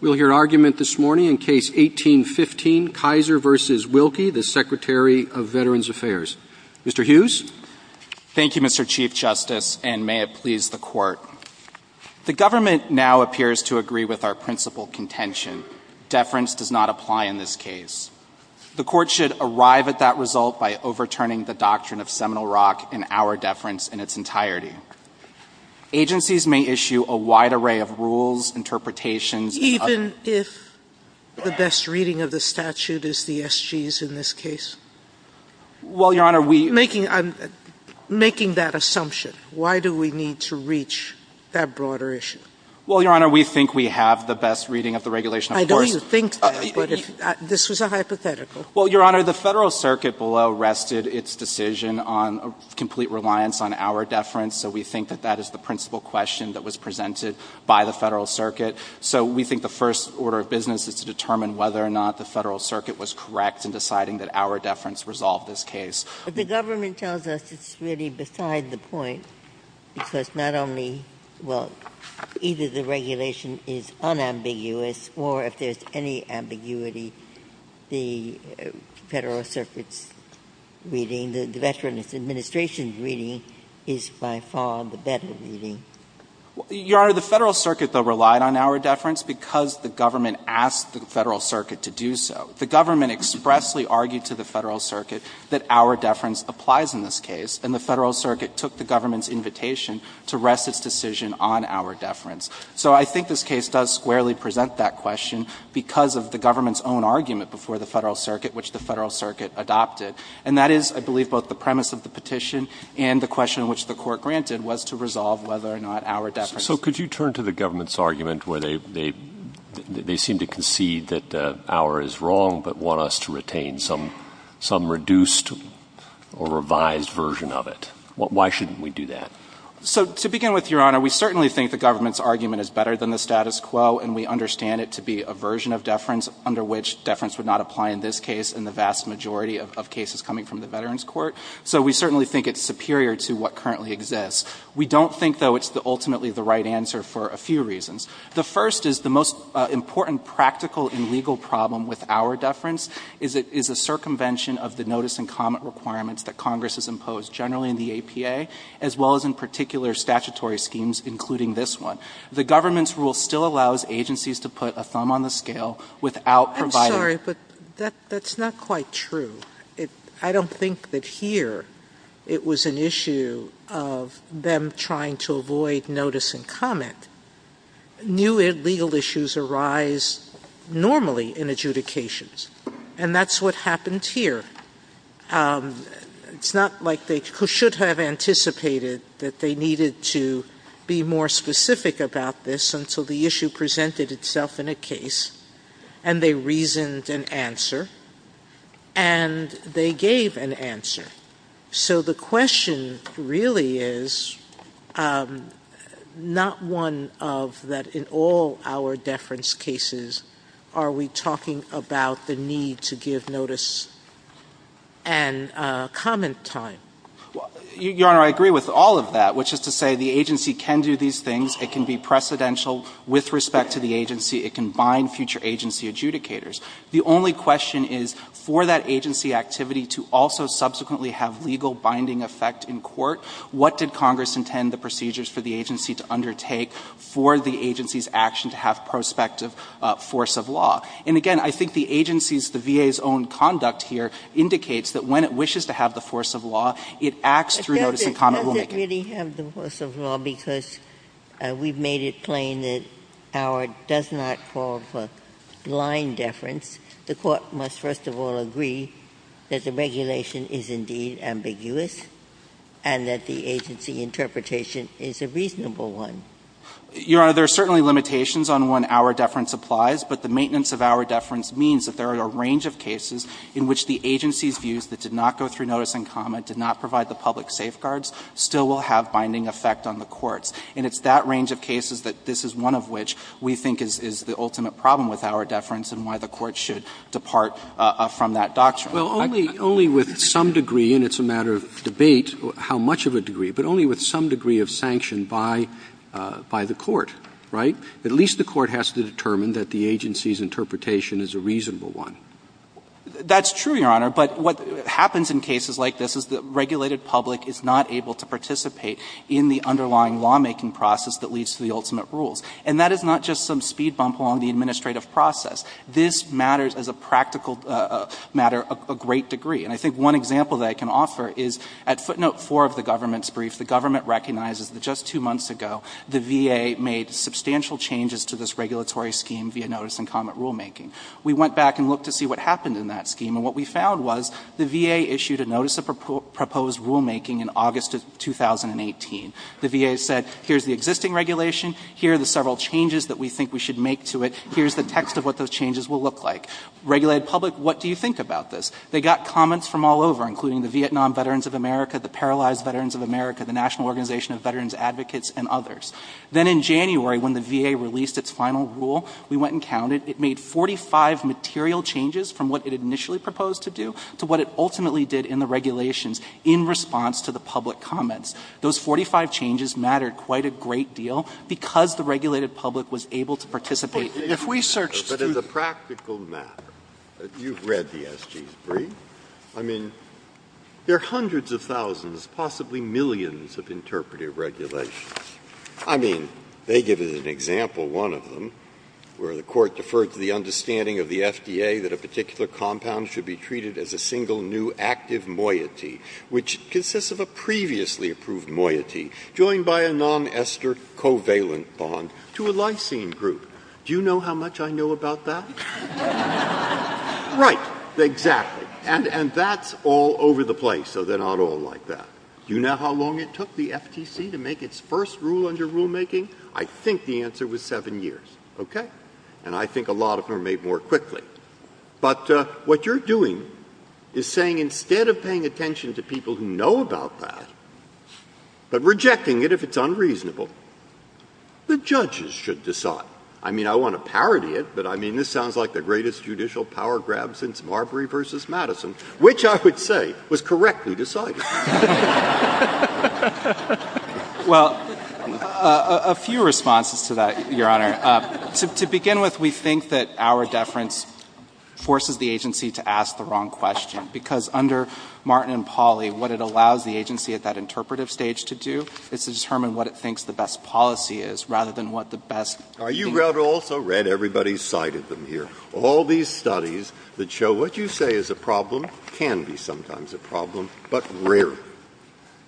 We'll hear argument this morning in Case 18-15, Kisor v. Wilkie, the Secretary of Veterans Affairs. Mr. Hughes? Thank you, Mr. Chief Justice, and may it please the Court. The government now appears to agree with our principal contention. Deference does not apply in this case. The Court should arrive at that result by overturning the doctrine of Seminole Rock and our deference in its entirety. Agencies may issue a wide array of rules, interpretations of Even if the best reading of the statute is the SGs in this case? Well, Your Honor, we Making that assumption. Why do we need to reach that broader issue? Well, Your Honor, we think we have the best reading of the regulation, of course I know you think that, but this was a hypothetical Well, Your Honor, the Federal Circuit below rested its decision on complete reliance on our deference, so we think that that is the principal question that was presented by the Federal Circuit. So we think the first order of business is to determine whether or not the Federal Circuit was correct in deciding that our deference resolved this case. The government tells us it's really beside the point because not only, well, either the regulation is unambiguous or if there's any ambiguity, the Federal Circuit's reading, and the Veterans Administration's reading is by far the better reading. Your Honor, the Federal Circuit, though, relied on our deference because the government asked the Federal Circuit to do so. The government expressly argued to the Federal Circuit that our deference applies in this case, and the Federal Circuit took the government's invitation to rest its decision on our deference. So I think this case does squarely present that question because of the government's own argument before the Federal Circuit, which the Federal Circuit adopted. And that is, I believe, both the premise of the petition and the question which the Court granted was to resolve whether or not our deference. So could you turn to the government's argument where they seem to concede that our is wrong, but want us to retain some reduced or revised version of it? Why shouldn't we do that? So to begin with, Your Honor, we certainly think the government's argument is better than the status quo, and we understand it to be a version of deference under which deference would not apply in this case and the vast majority of cases coming from the Veterans Court. So we certainly think it's superior to what currently exists. We don't think, though, it's ultimately the right answer for a few reasons. The first is the most important practical and legal problem with our deference is it is a circumvention of the notice and comment requirements that Congress has imposed generally in the APA, as well as in particular statutory schemes, including this one. The government's rule still allows agencies to put a thumb on the scale without providing- I'm sorry, but that's not quite true. I don't think that here it was an issue of them trying to avoid notice and comment. New legal issues arise normally in adjudications, and that's what happened here. It's not like they should have anticipated that they needed to be more specific about this until the issue presented itself in a case and they reasoned an answer and they gave an answer. So the question really is not one of that in all our deference cases are we talking about the need to give notice and comment time. Your Honor, I agree with all of that, which is to say the agency can do these things. It can be precedential with respect to the agency. It can bind future agency adjudicators. The only question is for that agency activity to also subsequently have legal binding effect in court, what did Congress intend the procedures for the agency to undertake for the agency's action to have prospective force of law? And again, I think the agency's, the VA's own conduct here indicates that when it wishes to have the force of law, it acts through notice and comment rulemaking. Ginsburg. I don't really have the force of law because we've made it plain that our does not call for line deference. The Court must first of all agree that the regulation is indeed ambiguous and that the agency interpretation is a reasonable one. Your Honor, there are certainly limitations on when our deference applies, but the maintenance of our deference means that there are a range of cases in which the agency's notice and comment did not provide the public safeguards still will have binding effect on the courts. And it's that range of cases that this is one of which we think is the ultimate problem with our deference and why the Court should depart from that doctrine. Roberts. Only with some degree, and it's a matter of debate how much of a degree, but only with some degree of sanction by the Court, right? At least the Court has to determine that the agency's interpretation is a reasonable one. That's true, Your Honor, but what happens in cases like this is the regulated public is not able to participate in the underlying lawmaking process that leads to the ultimate rules. And that is not just some speed bump along the administrative process. This matters as a practical matter a great degree. And I think one example that I can offer is at footnote 4 of the government's brief, the government recognizes that just two months ago the VA made substantial changes to this regulatory scheme via notice and comment rulemaking. We went back and looked to see what happened in that scheme, and what we found was the VA issued a notice of proposed rulemaking in August of 2018. The VA said, here's the existing regulation, here are the several changes that we think we should make to it, here's the text of what those changes will look like. Regulated public, what do you think about this? They got comments from all over, including the Vietnam Veterans of America, the Paralyzed Veterans of America, the National Organization of Veterans Advocates, and others. Then in January, when the VA released its final rule, we went and counted. It made 45 material changes from what it initially proposed to do to what it ultimately did in the regulations in response to the public comments. Those 45 changes mattered quite a great deal because the regulated public was able to participate. If we searched through the briefs, there are hundreds of thousands, possibly millions of interpretive regulations. I mean, they give as an example one of them, where the Court deferred to the understanding of the FDA that a particular compound should be treated as a single new active moiety, which consists of a previously approved moiety joined by a non-ester covalent bond to a lysine group. Do you know how much I know about that? Right. Exactly. And that's all over the place, so they're not all like that. Do you know how long it took the FTC to make its first rule under rulemaking? I think the answer was seven years. OK. And I think a lot of them are made more quickly. But what you're doing is saying instead of paying attention to people who know about that, but rejecting it if it's unreasonable, the judges should decide. I mean, I want to parody it, but I mean, this sounds like the greatest judicial power grab since Marbury versus Madison, which I would say was correctly decided. Well, a few responses to that, Your Honor. To begin with, we think that our deference forces the agency to ask the wrong question, because under Martin and Pauly, what it allows the agency at that interpretive stage to do is to determine what it thinks the best policy is, rather than what the best. You also read everybody cited them here. All these studies that show what you say is a problem can be sometimes a problem, but rarely,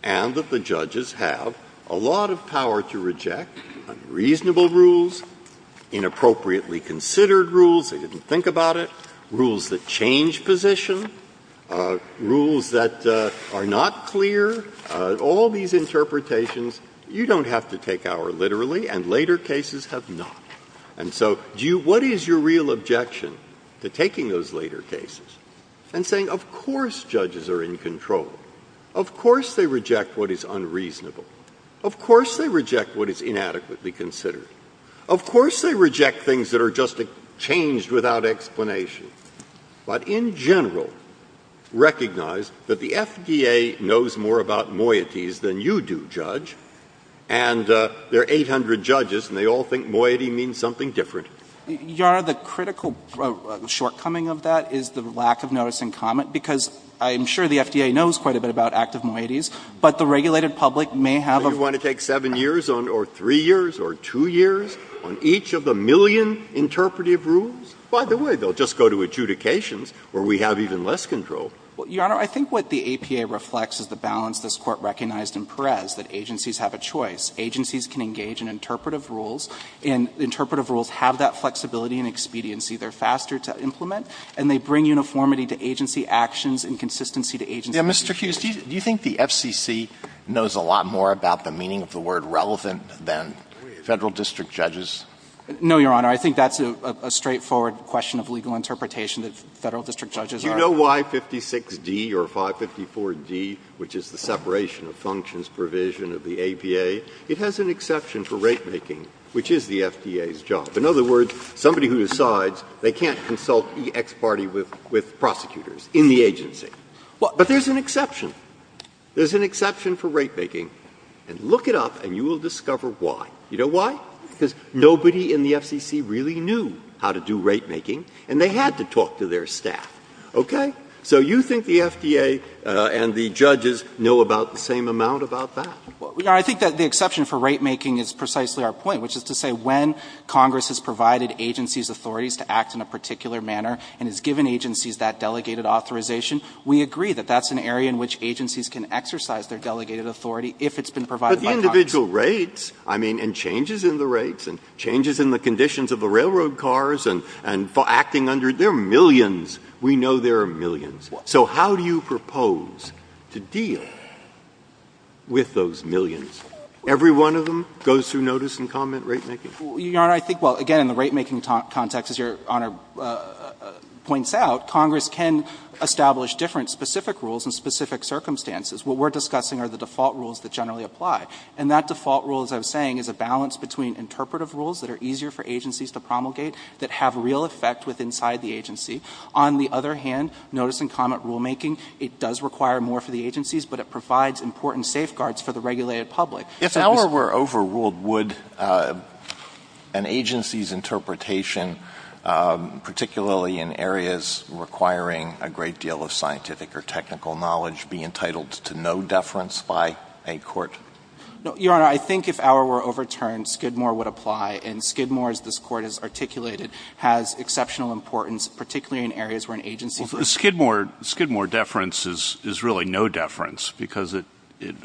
and that the judges have a lot of power to reject unreasonable rules, inappropriately considered rules, they didn't think about it, rules that change position, rules that are not clear, all these interpretations, you don't have to take our literally, and later cases have not. And so do you – what is your real objection to taking those later cases and saying, of course judges are in control, of course they reject what is unreasonable, of course they reject what is inadequately considered, of course they reject things that are just changed without explanation, but in general, recognize that the FDA knows more about moieties than you do, Judge, and there are 800 judges, and they all think moiety means something different. Your Honor, the critical shortcoming of that is the lack of notice and comment, because I am sure the FDA knows quite a bit about active moieties, but the regulated public may have a – Do you want to take 7 years or 3 years or 2 years on each of the million interpretive rules? By the way, they will just go to adjudications where we have even less control. Your Honor, I think what the APA reflects is the balance this Court recognized in Perez, that agencies have a choice. Agencies can engage in interpretive rules, and interpretive rules have that flexibility and expediency. They are faster to implement, and they bring uniformity to agency actions and consistency to agency decisions. Mr. Hughes, do you think the FCC knows a lot more about the meaning of the word relevant than Federal district judges? No, Your Honor. I think that's a straightforward question of legal interpretation, that Federal district judges are – Do you know why 56D or 554D, which is the separation of functions provision of the agency, it has an exception for ratemaking, which is the FDA's job? In other words, somebody who decides they can't consult the X party with prosecutors in the agency. But there's an exception. There's an exception for ratemaking. And look it up, and you will discover why. You know why? Because nobody in the FCC really knew how to do ratemaking, and they had to talk to their staff. Okay? So you think the FDA and the judges know about the same amount about that? I think that the exception for ratemaking is precisely our point, which is to say when Congress has provided agencies authorities to act in a particular manner and has given agencies that delegated authorization, we agree that that's an area in which agencies can exercise their delegated authority if it's been provided by Congress. But the individual rates, I mean, and changes in the rates and changes in the conditions of the railroad cars and acting under, there are millions. We know there are millions. So how do you propose to deal with those millions? Every one of them goes through notice and comment ratemaking? Well, Your Honor, I think, well, again, in the ratemaking context, as Your Honor points out, Congress can establish different specific rules in specific circumstances. What we're discussing are the default rules that generally apply. And that default rule, as I was saying, is a balance between interpretive rules that are easier for agencies to promulgate that have real effect with inside the agency. On the other hand, notice and comment rulemaking, it does require more for the agencies, but it provides important safeguards for the regulated public. If our were overruled, would an agency's interpretation, particularly in areas requiring a great deal of scientific or technical knowledge, be entitled to no deference by a court? No, Your Honor, I think if our were overturned, Skidmore would apply. And Skidmore, as this Court has articulated, has exceptional importance, particularly in areas where an agency's Well, Skidmore deference is really no deference, because it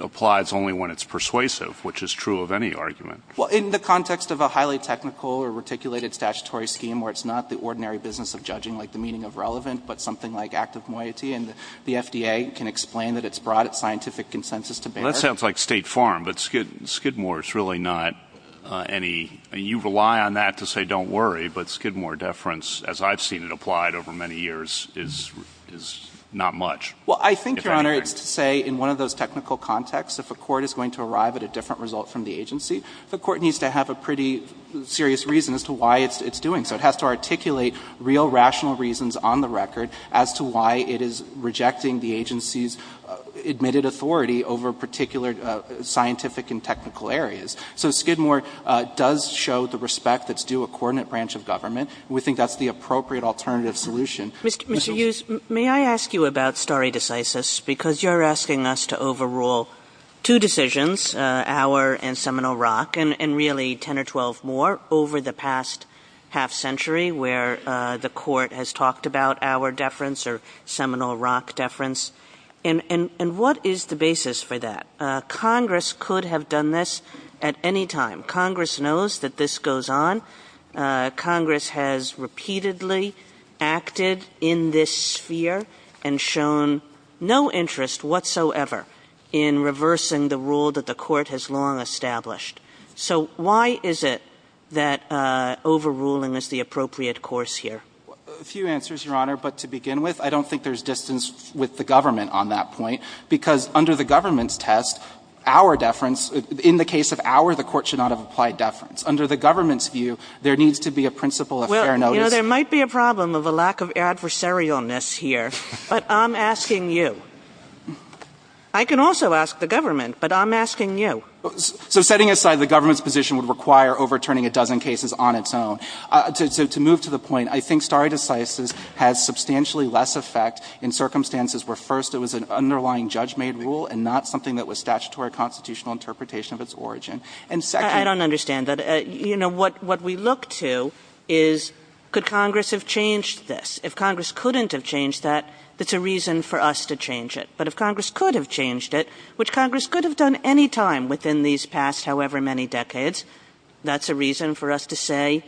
applies only when it's persuasive, which is true of any argument. Well, in the context of a highly technical or reticulated statutory scheme where it's not the ordinary business of judging, like the meaning of relevant, but something like active moiety, and the FDA can explain that it's brought its scientific consensus to bear. Well, that sounds like State Farm, but Skidmore is really not any, you rely on that to say don't worry, but Skidmore deference, as I've seen it applied over many years, is not much. Well, I think, Your Honor, it's to say in one of those technical contexts, if a court is going to arrive at a different result from the agency, the court needs to have a pretty serious reason as to why it's doing so. It has to articulate real rational reasons on the record as to why it is rejecting the agency's admitted authority over particular scientific and technical areas. So Skidmore does show the respect that's due a coordinate branch of government. We think that's the appropriate alternative solution. Kagan. Mr. Hughes, may I ask you about stare decisis, because you're asking us to overrule two decisions, Auer and Seminole Rock, and really 10 or 12 more, over the past half century, where the court has talked about Auer deference or Seminole Rock deference. And what is the basis for that? Congress could have done this at any time. Congress knows that this goes on. Congress has repeatedly acted in this sphere and shown no interest whatsoever in reversing the rule that the court has long established. So why is it that overruling is the appropriate course here? A few answers, Your Honor, but to begin with, I don't think there's distance with the government on that point, because under the government's test, Auer deference — in the case of Auer, the court should not have applied deference. Under the government's view, there needs to be a principle of fair notice. Well, you know, there might be a problem of a lack of adversarialness here, but I'm asking you. I can also ask the government, but I'm asking you. So setting aside the government's position would require overturning a dozen cases on its own. To move to the point, I think stare decisis has substantially less effect in circumstances where, first, it was an underlying judge-made rule and not something that was statutory constitutional interpretation of its origin. And, second — I don't understand that. You know, what we look to is, could Congress have changed this? If Congress couldn't have changed that, that's a reason for us to change it. But if Congress could have changed it, which Congress could have done any time within these past however many decades, that's a reason for us to say,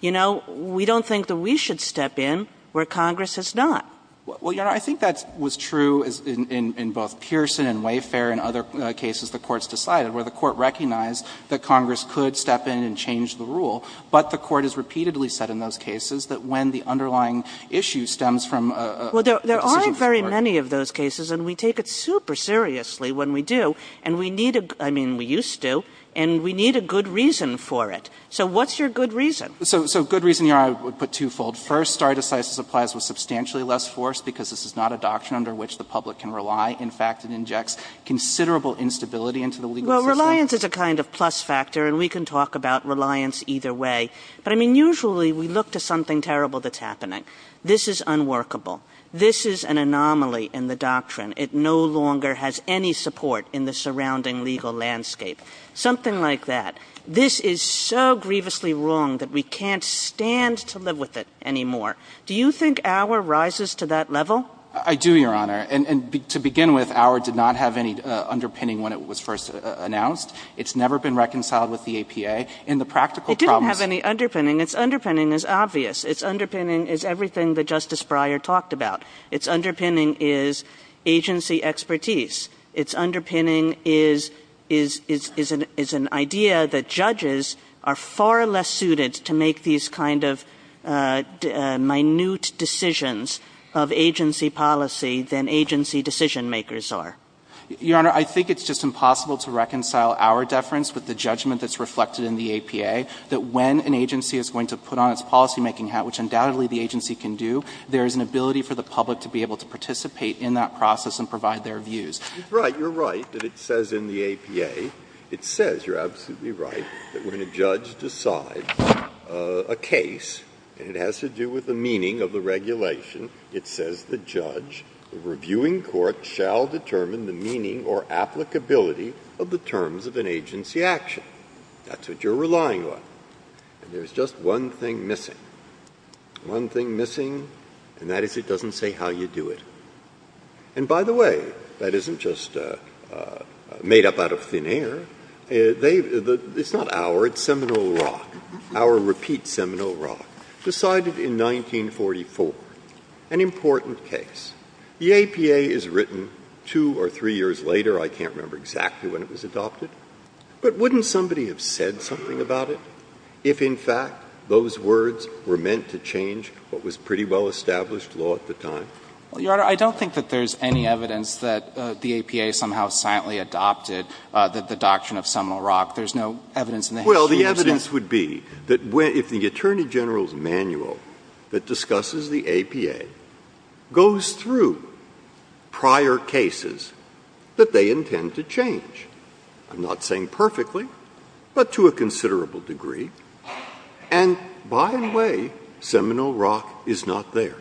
you know, we don't think that we should step in where Congress has not. Well, Your Honor, I think that was true in both Pearson and Wayfair and other cases the courts decided, where the court recognized that Congress could step in and change the rule, but the court has repeatedly said in those cases that when the underlying issue stems from a decision from the court. Well, there are very many of those cases, and we take it super seriously when we do. And we need a — I mean, we used to. And we need a good reason for it. So what's your good reason? So — so good reason, Your Honor, I would put twofold. First, stare decisis applies with substantially less force because this is not a doctrine under which the public can rely. In fact, it injects considerable instability into the legal system. Well, reliance is a kind of plus factor, and we can talk about reliance either way. But, I mean, usually we look to something terrible that's happening. This is unworkable. This is an anomaly in the doctrine. It no longer has any support in the surrounding legal landscape. Something like that. This is so grievously wrong that we can't stand to live with it anymore. Do you think Auer rises to that level? I do, Your Honor. And to begin with, Auer did not have any underpinning when it was first announced. It's never been reconciled with the APA. And the practical problem is — It didn't have any underpinning. Its underpinning is obvious. Its underpinning is everything that Justice Breyer talked about. Its underpinning is agency expertise. Its underpinning is an idea that judges are far less suited to make these kind of minute decisions of agency policy than agency decision-makers are. Your Honor, I think it's just impossible to reconcile Auer deference with the judgment that's reflected in the APA, that when an agency is going to put on its policymaking hat, which undoubtedly the agency can do, there is an ability for the public to be able to participate in that process and provide their views. You're right. You're right that it says in the APA — it says, you're absolutely right, that when a judge decides a case, and it has to do with the meaning of the regulation, it says the judge, the reviewing court, shall determine the meaning or applicability of the terms of an agency action. That's what you're relying on. And there's just one thing missing. One thing missing, and that is it doesn't say how you do it. And by the way, that isn't just made up out of thin air. They — it's not Auer, it's Seminole Rock. Auer repeats Seminole Rock. Decided in 1944. An important case. The APA is written two or three years later. I can't remember exactly when it was adopted. But wouldn't somebody have said something about it if, in fact, those words were meant to change what was pretty well-established law at the time? Well, Your Honor, I don't think that there's any evidence that the APA somehow silently adopted the doctrine of Seminole Rock. There's no evidence in the history of Seminole Rock. Well, the evidence would be that if the Attorney General's manual that discusses the APA goes through prior cases that they intend to change — I'm not saying perfectly, but to a considerable degree — and by the way, Seminole Rock is not there.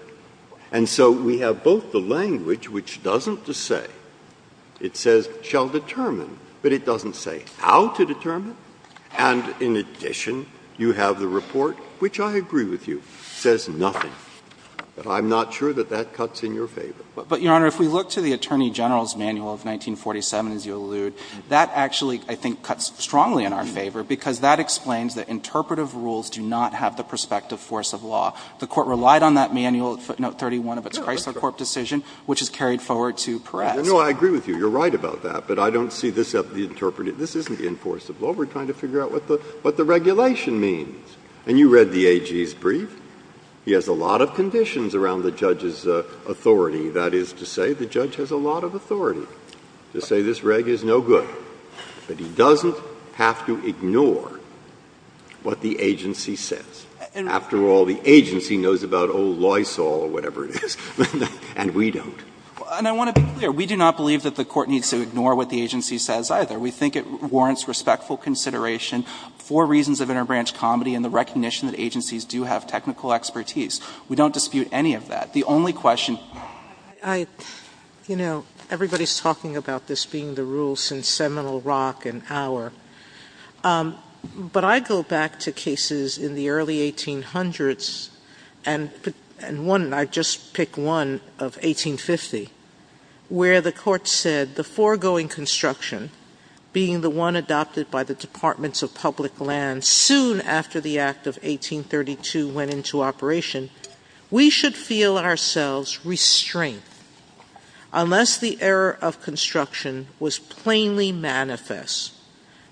And so we have both the language, which doesn't just say — it says shall determine, but it doesn't say how to determine. And in addition, you have the report, which I agree with you, says nothing. But I'm not sure that that cuts in your favor. But, Your Honor, if we look to the Attorney General's manual of 1947, as you allude, that actually, I think, cuts strongly in our favor, because that explains that interpretive rules do not have the prospective force of law. The Court relied on that manual at footnote 31 of its Chrysler Corp. decision, which is carried forward to Peres. No, I agree with you. You're right about that. But I don't see this as the interpretive — this isn't the enforce of law. We're trying to figure out what the — what the regulation means. And you read the AG's brief. He has a lot of conditions around the judge's authority. That is to say, the judge has a lot of authority to say this reg is no good. But he doesn't have to ignore what the agency says. After all, the agency knows about old Lysol or whatever it is, and we don't. And I want to be clear. We do not believe that the Court needs to ignore what the agency says, either. We think it warrants respectful consideration for reasons of interbranch comedy and the recognition that agencies do have technical expertise. We don't dispute any of that. The only question — You know, everybody's talking about this being the rule since Seminole Rock and our — but I go back to cases in the early 1800s, and one — I just picked one of 1850, where the Court said the foregoing construction, being the one adopted by the Departments of Public Land soon after the Act of 1832 went into operation, we should feel ourselves restrained unless the error of construction was plainly manifest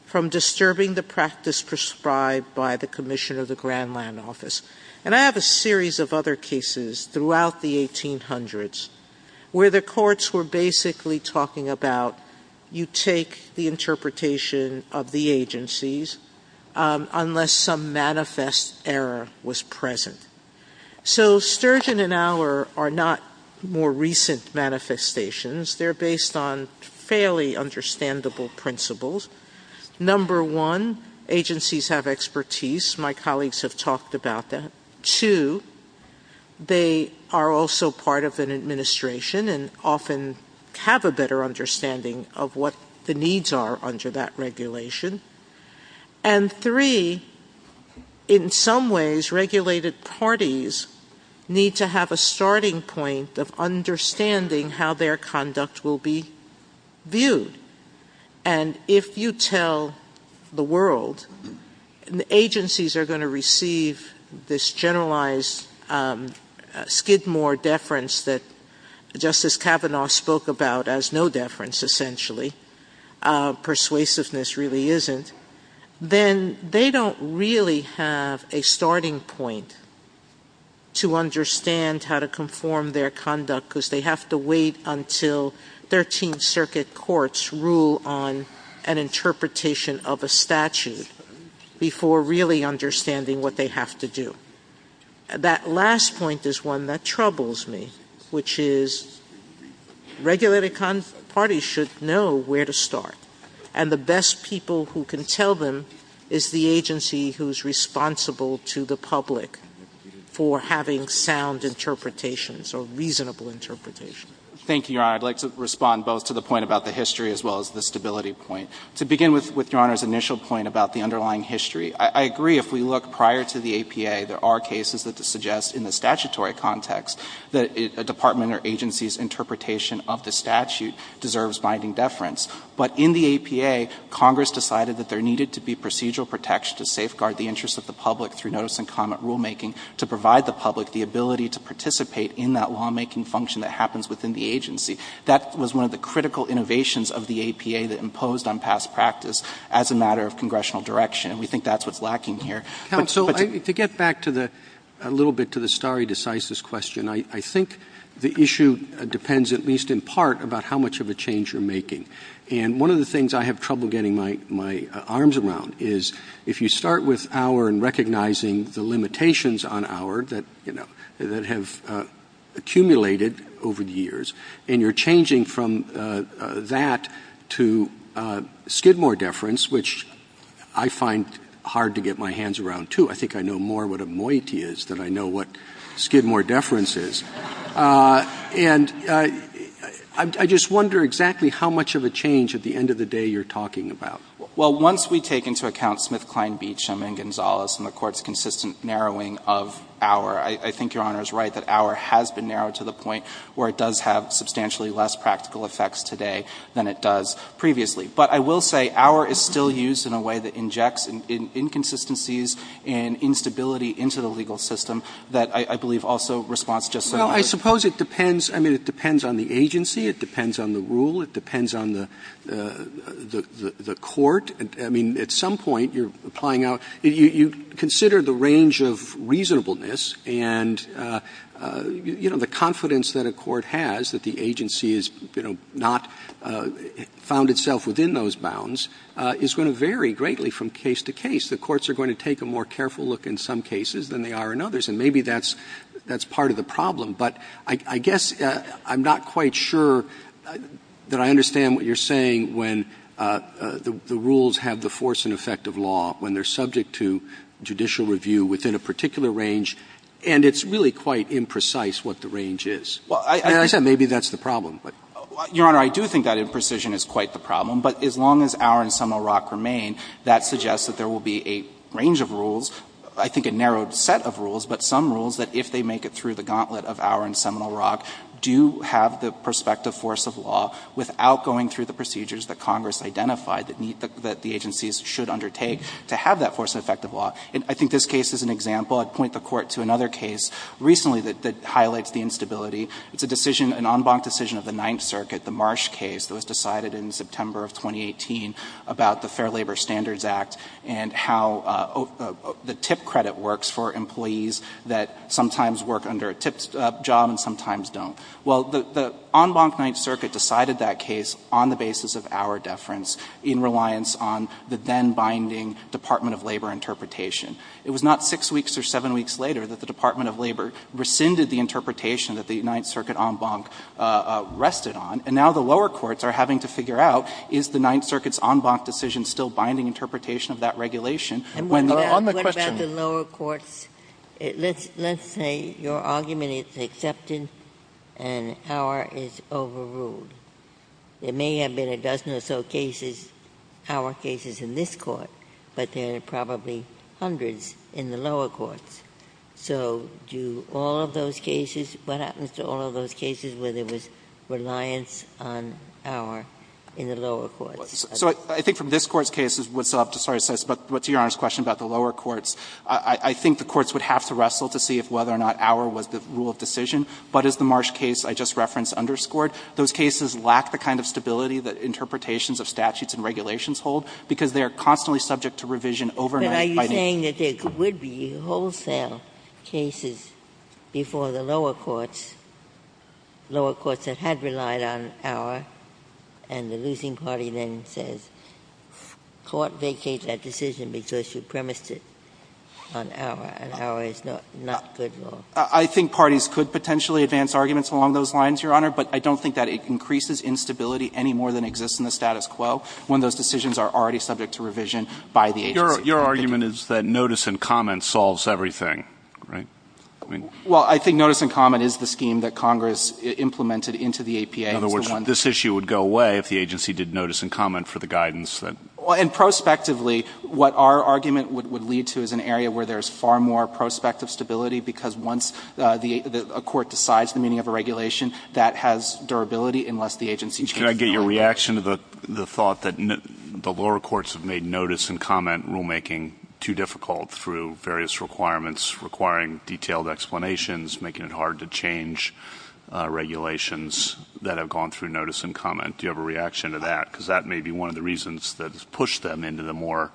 from disturbing the practice prescribed by the Commission of the Grand Land Office. And I have a series of other cases throughout the 1800s where the courts were basically talking about, you take the interpretation of the agencies unless some manifest error was present. So Sturgeon and Auer are not more recent manifestations. They're based on fairly understandable principles. Number one, agencies have expertise. My colleagues have talked about that. Two, they are also part of an administration and often have a better understanding of what the needs are under that regulation. And three, in some ways, regulated parties need to have a starting point of understanding how their conduct will be viewed. And if you tell the world, the agencies are going to receive this generalized Skidmore deference that Justice Kavanaugh spoke about as no deference essentially, persuasiveness really isn't, then they don't really have a starting point to understand how to conform their conduct because they have to wait until 13th Circuit courts rule on an interpretation of a statute before really understanding what they have to do. That last point is one that troubles me, which is regulated parties should know where to start. And the best people who can tell them is the agency who's responsible to the public for having sound interpretations or reasonable interpretations. Thank you, Your Honor. I'd like to respond both to the point about the history as well as the stability point. To begin with Your Honor's initial point about the underlying history, I agree if we look prior to the APA, there are cases that suggest in the statutory context that a department or agency's interpretation of the statute deserves binding deference. But in the APA, Congress decided that there needed to be procedural protection to safeguard the interests of the public through notice and comment rulemaking to provide the public the ability to participate in that lawmaking function that happens within the agency. That was one of the critical innovations of the APA that imposed on past practice as a matter of congressional direction. And we think that's what's lacking here. Counsel, to get back a little bit to the stare decisis question, I think the issue depends at least in part about how much of a change you're making. And one of the things I have trouble getting my arms around is if you start with Auer and recognizing the limitations on Auer that have accumulated over the years, and you're changing from that to Skidmore deference, which I find hard to get my hands around, too. I think I know more what a moiety is than I know what Skidmore deference is. And I just wonder exactly how much of a change at the end of the day you're talking about. Well, once we take into account Smith, Kline, Beecham, and Gonzales and the Court's consistent narrowing of Auer, I think Your Honor is right that Auer has been narrowed to the point where it does have substantially less practical effects today than it does previously. But I will say Auer is still used in a way that injects inconsistencies and instability into the legal system that I believe also responds just so much. Well, I suppose it depends. I mean, it depends on the agency. It depends on the rule. It depends on the court. I mean, at some point you're applying Auer. You consider the range of reasonableness and the confidence that a court has that the agency has not found itself within those bounds is going to vary greatly from case to case. The courts are going to take a more careful look in some cases than they are in others. And maybe that's part of the problem. But I guess I'm not quite sure that I understand what you're saying when the rules have the force and effect of law, when they're subject to judicial review within a particular range, and it's really quite imprecise what the range is. And I said maybe that's the problem, but. Your Honor, I do think that imprecision is quite the problem. But as long as Auer and Seminole Rock remain, that suggests that there will be a range of rules, I think a narrowed set of rules, but some rules that if they make it through the gauntlet of Auer and Seminole Rock, do have the prospective force of law without going through the procedures that Congress identified that the agencies should undertake to have that force and effect of law. And I think this case is an example. I'd point the court to another case recently that highlights the instability. It's an en banc decision of the Ninth Circuit, the Marsh case that was decided in September of 2018 about the Fair Labor Standards Act and how the TIP credit works for employees that sometimes work under a TIP job and sometimes don't. Well, the en banc Ninth Circuit decided that case on the basis of Auer deference in reliance on the then binding Department of Labor interpretation. It was not six weeks or seven weeks later that the Department of Labor rescinded the interpretation that the Ninth Circuit en banc rested on. And now the lower courts are having to figure out is the Ninth Circuit's en banc decision still binding interpretation of that regulation? When the question- And what about the lower courts? Let's say your argument is accepted and Auer is overruled. There may have been a dozen or so cases, Auer cases in this court, but there are probably hundreds in the lower courts. So do all of those cases, what happens to all of those cases where there was reliance on Auer in the lower courts? So I think from this court's case, it would still have to start assess, but to Your Honor's question about the lower courts, I think the courts would have to wrestle to see if whether or not Auer was the rule of decision. But as the Marsh case I just referenced underscored, those cases lack the kind of stability that interpretations of statutes and regulations hold because they are constantly subject to revision overnight- You're saying that there would be wholesale cases before the lower courts, lower courts that had relied on Auer, and the losing party then says, court vacates that decision because you premised it on Auer, and Auer is not good law. I think parties could potentially advance arguments along those lines, Your Honor, but I don't think that it increases instability any more than exists in the status quo when those decisions are already subject to revision by the agency. Your argument is that notice and comment solves everything, right? Well, I think notice and comment is the scheme that Congress implemented into the APA. In other words, this issue would go away if the agency did notice and comment for the guidance. Well, and prospectively, what our argument would lead to is an area where there's far more prospective stability because once a court decides the meaning of a regulation, that has durability unless the agency changes- Can I get your reaction to the thought that the lower courts have made notice and comment too difficult through various requirements requiring detailed explanations, making it hard to change regulations that have gone through notice and comment. Do you have a reaction to that? Because that may be one of the reasons that has pushed them into the more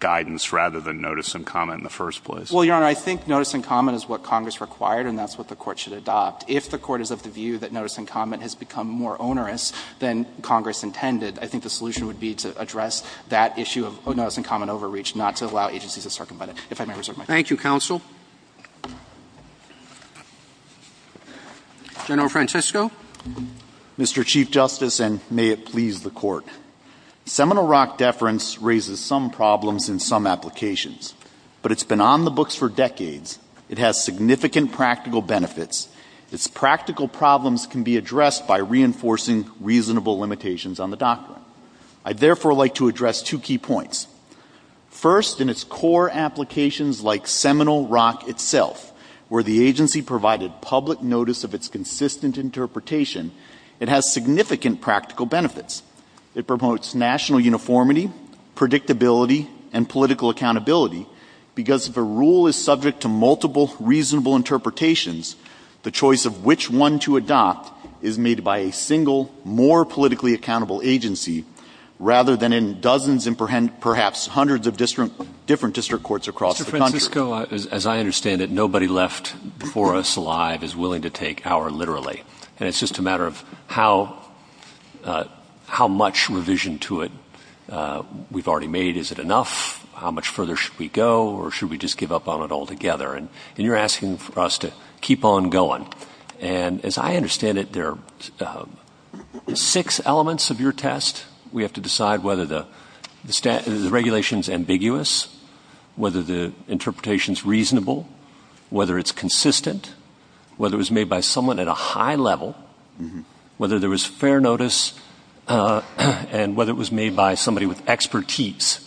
guidance rather than notice and comment in the first place. Well, Your Honor, I think notice and comment is what Congress required and that's what the court should adopt. If the court is of the view that notice and comment has become more onerous than Congress intended, I think the solution would be to address that issue of notice and comment overreach, not to allow agencies to circumvent it. If I may reserve my time. Thank you, counsel. General Francisco. Mr. Chief Justice and may it please the court. Seminole Rock deference raises some problems in some applications, but it's been on the books for decades. It has significant practical benefits. Its practical problems can be addressed by reinforcing reasonable limitations on the doctrine. I'd therefore like to address two key points. First, in its core applications like Seminole Rock itself, where the agency provided public notice of its consistent interpretation, it has significant practical benefits. It promotes national uniformity, predictability, and political accountability, because if a rule is subject to multiple reasonable interpretations, the choice of which one to adopt is made by a single, more politically accountable agency, rather than in dozens and perhaps hundreds of different district courts across the country. Mr. Francisco, as I understand it, nobody left before us alive is willing to take our literally and it's just a matter of how much revision to it we've already made. Is it enough? How much further should we go? Or should we just give up on it altogether? And you're asking for us to keep on going. And as I understand it, there are six elements of your test. We have to decide whether the regulation's ambiguous, whether the interpretation's reasonable, whether it's consistent, whether it was made by someone at a high level, whether there was fair notice, and whether it was made by somebody with expertise.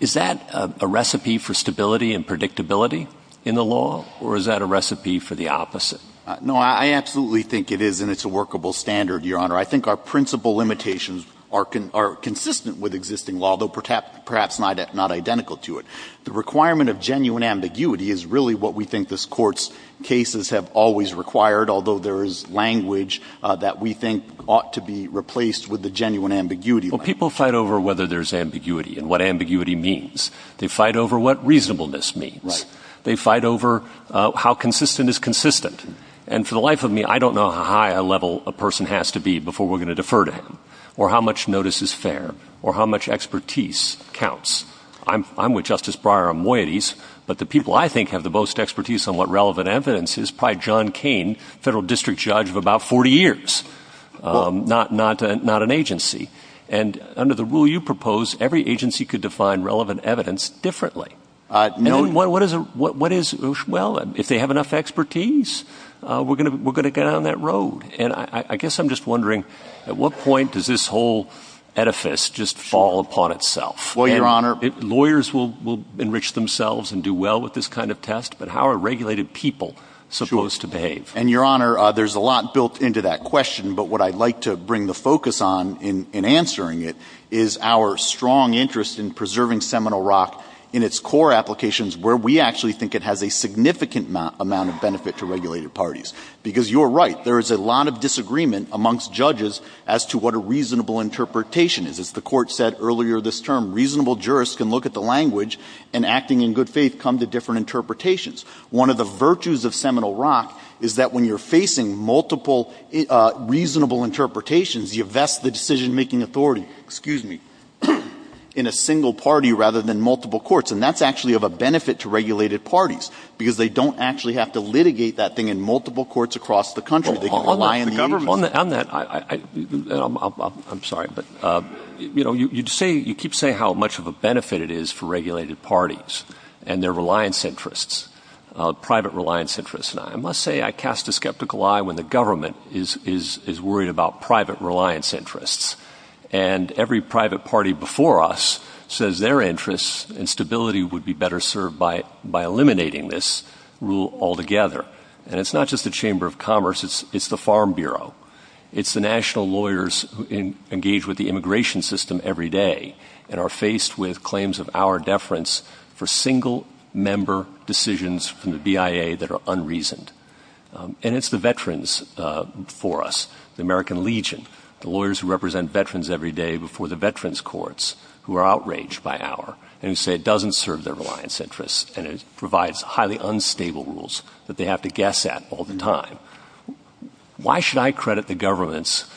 Is that a recipe for stability and predictability in the law? Or is that a recipe for the opposite? No, I absolutely think it is and it's a workable standard, Your Honor. I think our principal limitations are consistent with existing law, though perhaps not identical to it. The requirement of genuine ambiguity is really what we think this court's cases have always required, although there is language that we think ought to be replaced with the genuine ambiguity. Well, people fight over whether there's ambiguity and what ambiguity means. They fight over what reasonableness means. They fight over how consistent is consistent. And for the life of me, I don't know how high a level a person has to be before we're gonna defer to him or how much notice is fair or how much expertise counts. I'm with Justice Breyer on moieties, but the people I think have the most expertise on what relevant evidence is, probably John Cain, federal district judge of about 40 years, not an agency. And under the rule you propose, every agency could define relevant evidence differently. And then what is, well, if they have enough expertise, we're gonna get on that road. And I guess I'm just wondering, at what point does this whole edifice just fall upon itself? Well, Your Honor. Lawyers will enrich themselves and do well with this kind of test, but how are regulated people supposed to behave? And Your Honor, there's a lot built into that question, but what I'd like to bring the focus on in answering it is our strong interest in preserving Seminole Rock in its core applications where we actually think it has a significant amount of benefit to regulated parties. Because you're right, there is a lot of disagreement amongst judges as to what a reasonable interpretation is. As the court said earlier this term, reasonable jurists can look at the language and acting in good faith come to different interpretations. One of the virtues of Seminole Rock is that when you're facing multiple reasonable interpretations, you vest the decision-making authority, excuse me, in a single party rather than multiple courts. And that's actually of a benefit to regulated parties because they don't actually have to litigate that thing in multiple courts across the country. They can rely on the agency. On that, I'm sorry, but you keep saying how much of a benefit it is for regulated parties and their reliance interests, private reliance interests. And I must say, I cast a skeptical eye when the government is worried about private reliance interests. And every private party before us says their interests and stability would be better served by eliminating this rule altogether. And it's not just the Chamber of Commerce, it's the Farm Bureau. It's the national lawyers who engage with the immigration system every day and are faced with claims of our deference for single member decisions from the BIA that are unreasoned. And it's the veterans for us, the American Legion, the lawyers who represent veterans every day before the veterans courts who are outraged by our, and who say it doesn't serve their reliance interests and it provides highly unstable rules that they have to guess at all the time. Why should I credit the government's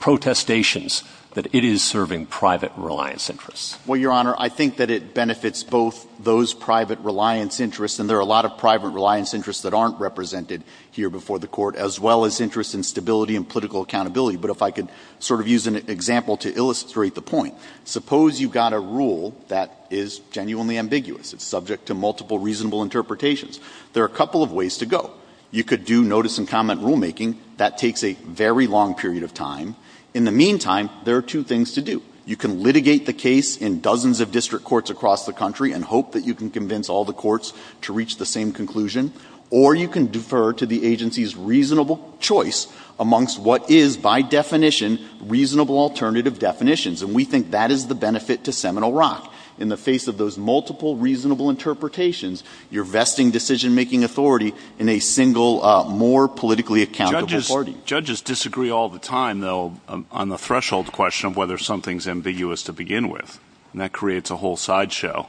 protestations that it is serving private reliance interests? Well, Your Honor, I think that it benefits both those private reliance interests, and there are a lot of private reliance interests that aren't represented here before the court, as well as interest in stability and political accountability. But if I could sort of use an example to illustrate the point. Suppose you've got a rule that is genuinely ambiguous. It's subject to multiple reasonable interpretations. There are a couple of ways to go. You could do notice and comment rulemaking. That takes a very long period of time. In the meantime, there are two things to do. You can litigate the case in dozens of district courts across the country and hope that you can convince all the courts to reach the same conclusion, or you can defer to the agency's reasonable choice amongst what is, by definition, reasonable alternative definitions. And we think that is the benefit to Seminole Rock. In the face of those multiple reasonable interpretations, you're vesting decision-making authority in a single, more politically accountable party. Judges disagree all the time, though, on the threshold question of whether something's ambiguous to begin with, and that creates a whole sideshow.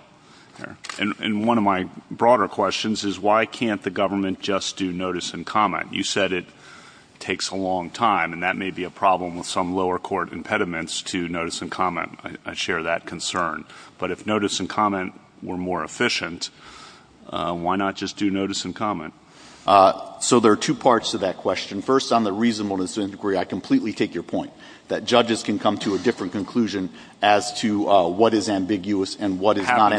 And one of my broader questions is, why can't the government just do notice and comment? You said it takes a long time, and that may be a problem with some lower court impediments to notice and comment. I share that concern. But if notice and comment were more efficient, why not just do notice and comment? So there are two parts to that question. First, on the reasonableness inquiry, I completely take your point, that judges can come to a different conclusion as to what is ambiguous and what is not.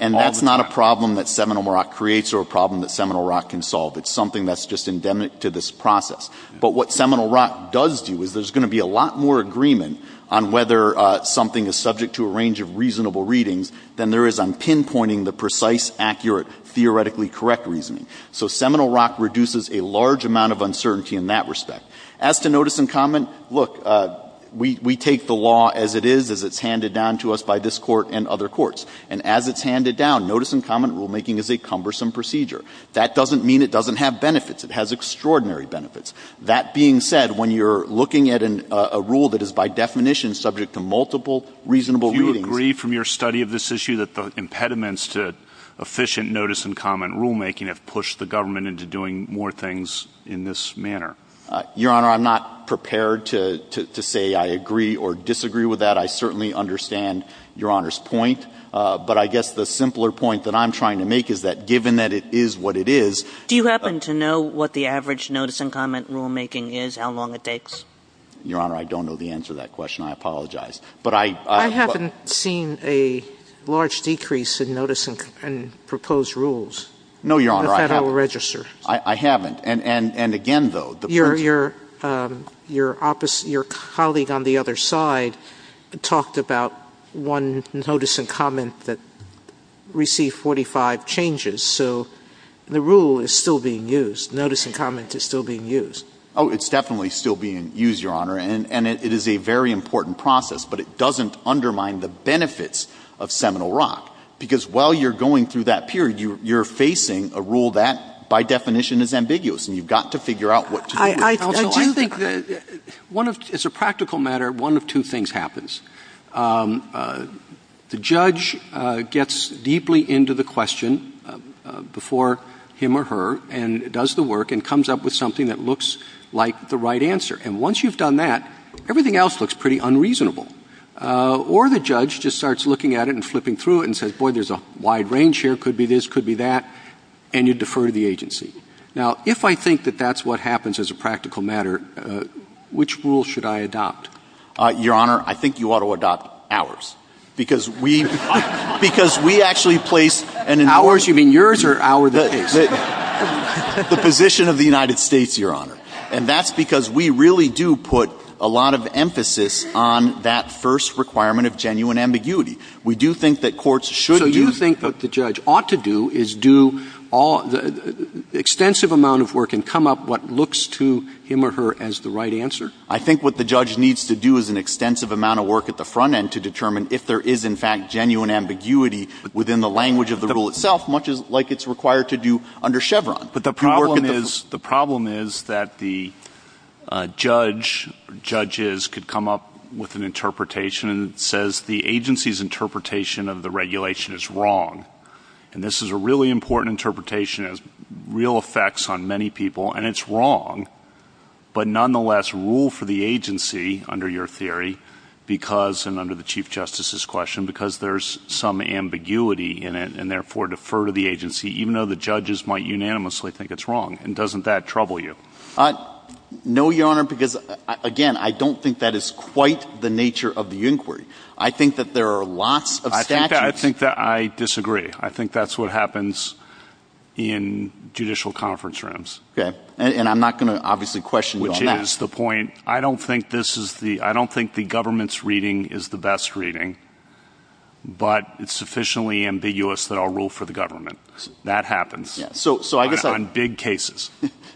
And that's not a problem that Seminole Rock creates or a problem that Seminole Rock can solve. It's something that's just endemic to this process. But what Seminole Rock does do is there's gonna be a lot more agreement on whether something is subject to a range of reasonable readings than there is on pinpointing the precise, accurate, theoretically correct reasoning. So Seminole Rock reduces a large amount of uncertainty in that respect. As to notice and comment, look, we take the law as it is, as it's handed down to us by this court and other courts. And as it's handed down, notice and comment rulemaking is a cumbersome procedure. That doesn't mean it doesn't have benefits. It has extraordinary benefits. That being said, when you're looking at a rule that is by definition subject to multiple reasonable readings- Do you agree from your study of this issue that the impediments to efficient notice and comment rulemaking have pushed the government into doing more things in this manner? Your Honor, I'm not prepared to say I agree or disagree with that. I certainly understand Your Honor's point. But I guess the simpler point that I'm trying to make is that given that it is what it is- Do you happen to know what the average notice and comment rulemaking is, how long it takes? Your Honor, I don't know the answer to that question. I apologize. But I- I haven't seen a large decrease in notice and proposed rules. No, Your Honor, I haven't. The Federal Register. I haven't. And again, though, the- Your colleague on the other side, talked about one notice and comment that received 45 changes. So the rule is still being used. Notice and comment is still being used. Oh, it's definitely still being used, Your Honor. And it is a very important process, but it doesn't undermine the benefits of Seminole Rock. Because while you're going through that period, you're facing a rule that, by definition, is ambiguous. And you've got to figure out what to do with it. I do think that- One of two things happens. The judge gets deeply into the question before him or her, and does the work, and comes up with something that looks like the right answer. And once you've done that, everything else looks pretty unreasonable. Or the judge just starts looking at it and flipping through it and says, boy, there's a wide range here. Could be this, could be that. And you defer to the agency. Now, if I think that that's what happens as a practical matter, which rule should I adopt? Your Honor, I think you ought to adopt ours. Because we actually place an- Ours? You mean yours or our case? The position of the United States, Your Honor. And that's because we really do put a lot of emphasis on that first requirement of genuine ambiguity. We do think that courts should do- So you think that the judge ought to do is do extensive amount of work and come up what looks to him or her as the right answer? I think what the judge needs to do is an extensive amount of work at the front end to determine if there is, in fact, genuine ambiguity within the language of the rule itself, much like it's required to do under Chevron. But the problem is, the problem is that the judge, judges could come up with an interpretation that says the agency's interpretation of the regulation is wrong. And this is a really important interpretation. It has real effects on many people. And it's wrong. But nonetheless, rule for the agency, under your theory, because, and under the Chief Justice's question, because there's some ambiguity in it and therefore defer to the agency, even though the judges might unanimously think it's wrong. And doesn't that trouble you? No, Your Honor, because again, I don't think that is quite the nature of the inquiry. I think that there are lots of statutes- I think that I disagree. I think that's what happens in judicial conference rooms. Okay. And I'm not gonna obviously question you on that. Which is the point, I don't think this is the, I don't think the government's reading is the best reading, but it's sufficiently ambiguous that I'll rule for the government. That happens. Yeah, so I guess I- On big cases.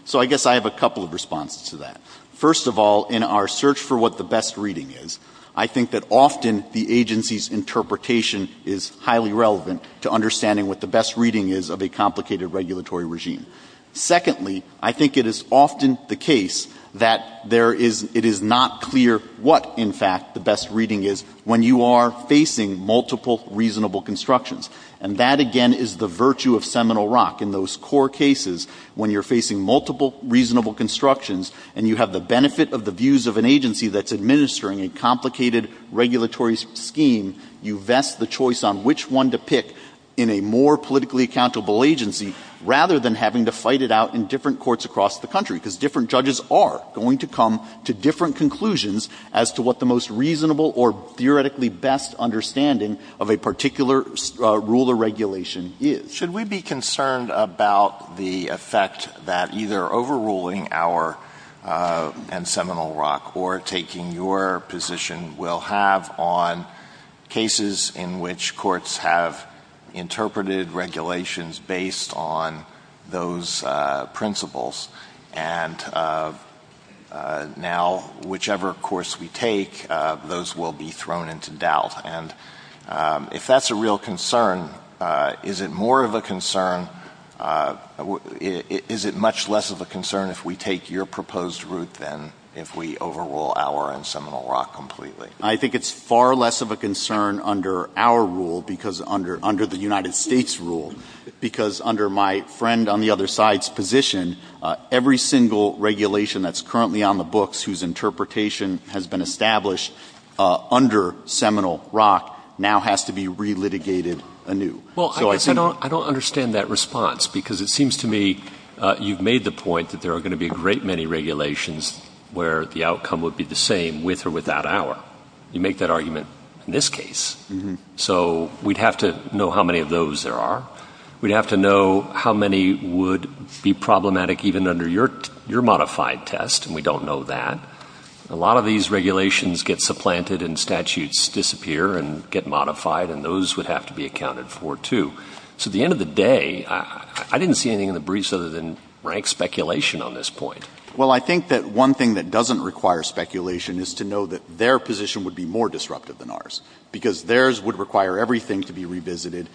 So I guess I have a couple of responses to that. First of all, in our search for what the best reading is, I think that often the agency's interpretation is highly relevant to understanding what the best reading is of a complicated regulatory regime. Secondly, I think it is often the case that there is, it is not clear what, in fact, the best reading is when you are facing multiple reasonable constructions. And that, again, is the virtue of Seminole Rock. In those core cases, when you're facing multiple reasonable constructions and you have the benefit of the views of an agency that's administering a complicated regulatory scheme, you vest the choice on which one to pick in a more politically accountable agency rather than having to fight it out in different courts across the country, because different judges are going to come to different conclusions as to what the most reasonable or theoretically best understanding of a particular rule or regulation is. Should we be concerned about the effect that either overruling our, and Seminole Rock, or taking your position will have on cases in which courts have interpreted regulations based on those principles? And now, whichever course we take, those will be thrown into doubt. And if that's a real concern, is it more of a concern, is it much less of a concern if we take your proposed route than if we overrule our and Seminole Rock completely? I think it's far less of a concern under our rule because, under the United States rule, because under my friend on the other side's position, every single regulation that's currently on the books whose interpretation has been established under Seminole Rock now has to be re-litigated anew. So I think- Well, I guess I don't understand that response because it seems to me you've made the point that there are going to be a great many regulations where the outcome would be the same with or without our. You make that argument in this case. So we'd have to know how many of those there are. We'd have to know how many would be problematic even under your modified test, and we don't know that. A lot of these regulations get supplanted and statutes disappear and get modified, and those would have to be accounted for too. So at the end of the day, I didn't see anything in the briefs other than rank speculation on this point. Well, I think that one thing that doesn't require speculation is to know that their position would be more disruptive than ours because theirs would require everything to be revisited.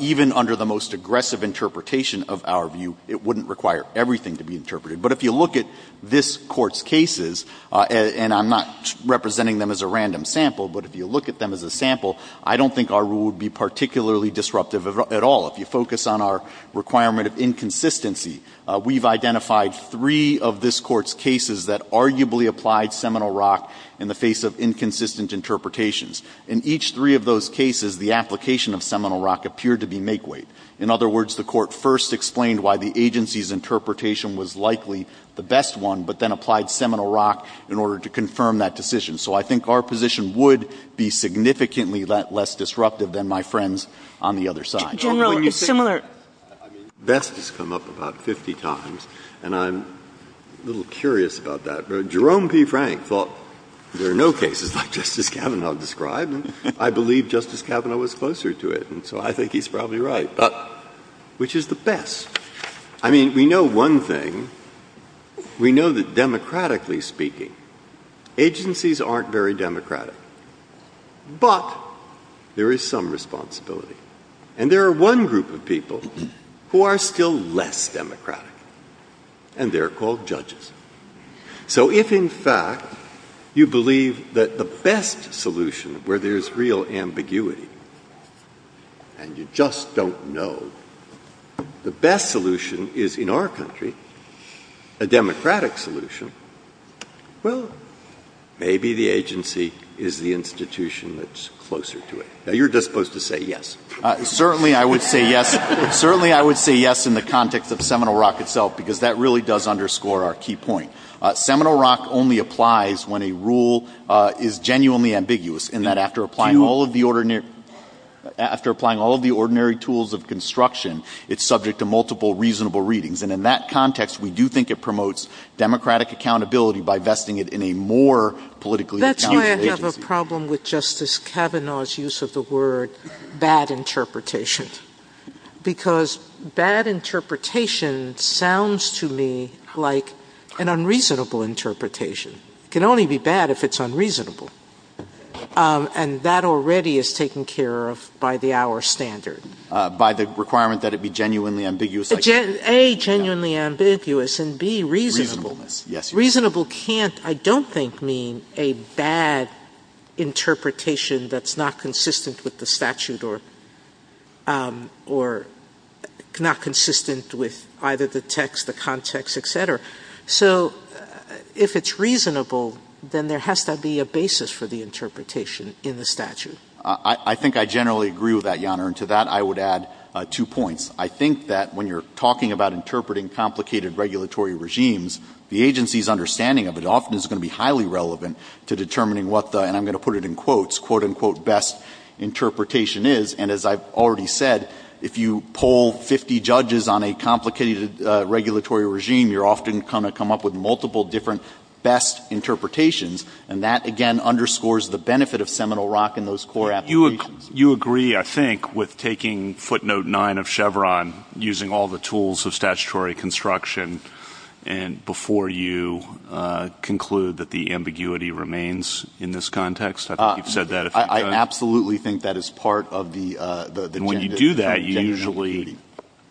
Even under the most aggressive interpretation of our view, it wouldn't require everything to be interpreted. But if you look at this Court's cases, and I'm not representing them as a random sample, but if you look at them as a sample, I don't think our rule would be particularly disruptive at all. If you focus on our requirement of inconsistency, we've identified three of this Court's cases that arguably applied Seminole Rock in the face of inconsistent interpretations. In each three of those cases, the application of Seminole Rock appeared to be make-weight. In other words, the Court first explained why the agency's interpretation was likely the best one, but then applied Seminole Rock in order to confirm that decision. So I think our position would be significantly less disruptive than my friends on the other side. General, it's similar. Vest has come up about 50 times, and I'm a little curious about that. Jerome P. Frank thought, there are no cases like Justice Kavanaugh described, and I believe Justice Kavanaugh was closer to it, and so I think he's probably right, which is the best. I mean, we know one thing. We know that democratically speaking, agencies aren't very democratic, but there is some responsibility. And there are one group of people who are still less democratic, and they're called judges. So if, in fact, you believe that the best solution, where there's real ambiguity, and you just don't know, the best solution is in our country, a democratic solution, well, maybe the agency is the institution that's closer to it. Now, you're just supposed to say yes. Certainly, I would say yes. Certainly, I would say yes in the context of Seminole Rock itself, because that really does underscore our key point. Seminole Rock only applies when a rule is genuinely ambiguous, in that after applying all of the ordinary, after applying all of the ordinary tools of construction, it's subject to multiple reasonable readings. And in that context, we do think it promotes democratic accountability by vesting it in a more politically accountable agency. That's why I have a problem with Justice Kavanaugh's use of the word bad interpretation, because bad interpretation sounds to me like an unreasonable interpretation. It can only be bad if it's unreasonable. And that already is taken care of by the hour standard. By the requirement that it be genuinely ambiguous. A, genuinely ambiguous, and B, reasonable. Reasonable can't, I don't think, mean a bad interpretation that's not consistent with the statute or not consistent with either the text, the context, et cetera. So if it's reasonable, then there has to be a basis for the interpretation in the statute. I think I generally agree with that, Your Honor. And to that, I would add two points. I think that when you're talking about interpreting complicated regulatory regimes, the agency's understanding of it to determining what the, and I'm going to put it in quotes, what this quote-unquote best interpretation is, and as I've already said, if you poll 50 judges on a complicated regulatory regime, you're often going to come up with multiple different best interpretations. And that, again, underscores the benefit of seminal rock in those core applications. You agree, I think, with taking footnote nine of Chevron, using all the tools of statutory construction, and before you conclude that the ambiguity remains in this context. I think you've said that. I absolutely think that is part of the agenda. And when you do that, you usually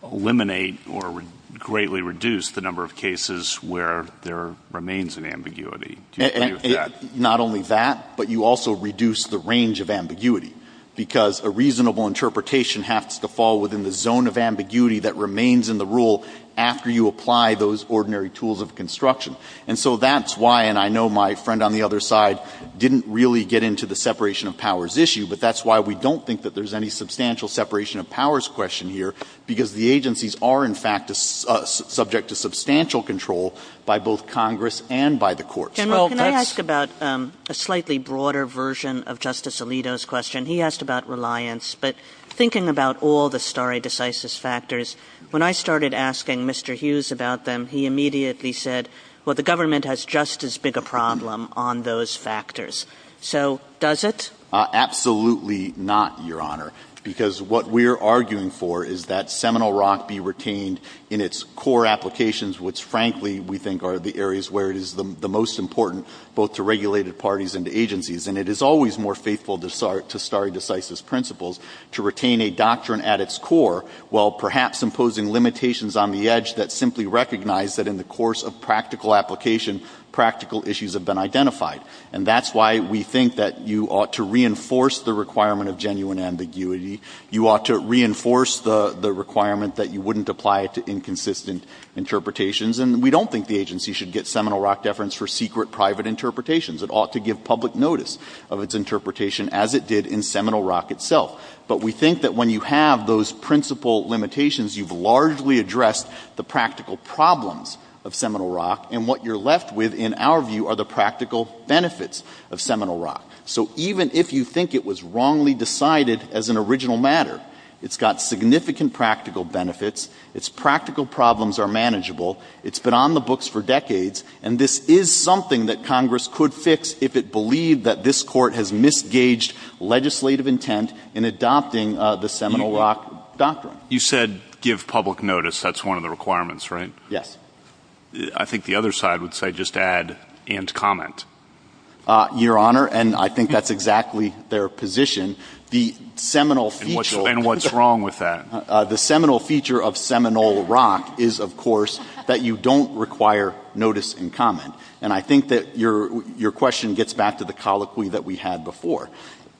eliminate or greatly reduce the number of cases where there remains an ambiguity. Do you agree with that? Not only that, but you also reduce the range of ambiguity, because a reasonable interpretation has to fall within the zone of ambiguity that remains in the rule after you apply those ordinary tools of construction. And so that's why, and I know my friend on the other side didn't really get into the separation of powers issue, but that's why we don't think that there's any substantial separation of powers question here, because the agencies are in fact subject to substantial control by both Congress and by the courts. Well, that's- Can I ask about a slightly broader version of Justice Alito's question? He asked about reliance, but thinking about all the stare decisis factors, when I started asking Mr. Hughes about them, he immediately said, well, the government has just as big a problem on those factors. So does it? Absolutely not, Your Honor, because what we're arguing for is that Seminole Rock be retained in its core applications, which frankly we think are the areas where it is the most important, both to regulated parties and to agencies. And it is always more faithful to stare decisis principles to retain a doctrine at its core, while perhaps imposing limitations on the edge that simply recognize that in the course of practical application, practical issues have been identified. And that's why we think that you ought to reinforce the requirement of genuine ambiguity. You ought to reinforce the requirement that you wouldn't apply it to inconsistent interpretations. And we don't think the agency should get Seminole Rock deference for secret private interpretations. It ought to give public notice of its interpretation as it did in Seminole Rock itself. But we think that when you have those principal limitations, you've largely addressed the practical problems of Seminole Rock. And what you're left with in our view are the practical benefits of Seminole Rock. So even if you think it was wrongly decided as an original matter, it's got significant practical benefits. Its practical problems are manageable. It's been on the books for decades. And this is something that Congress could fix if it believed that this court has misgaged legislative intent in adopting the Seminole Rock doctrine. You said give public notice. That's one of the requirements, right? Yes. I think the other side would say just add and comment. Your Honor, and I think that's exactly their position. The Seminole feature- And what's wrong with that? The Seminole feature of Seminole Rock is of course that you don't require notice and comment. And I think that your question gets back to the colloquy that we had before.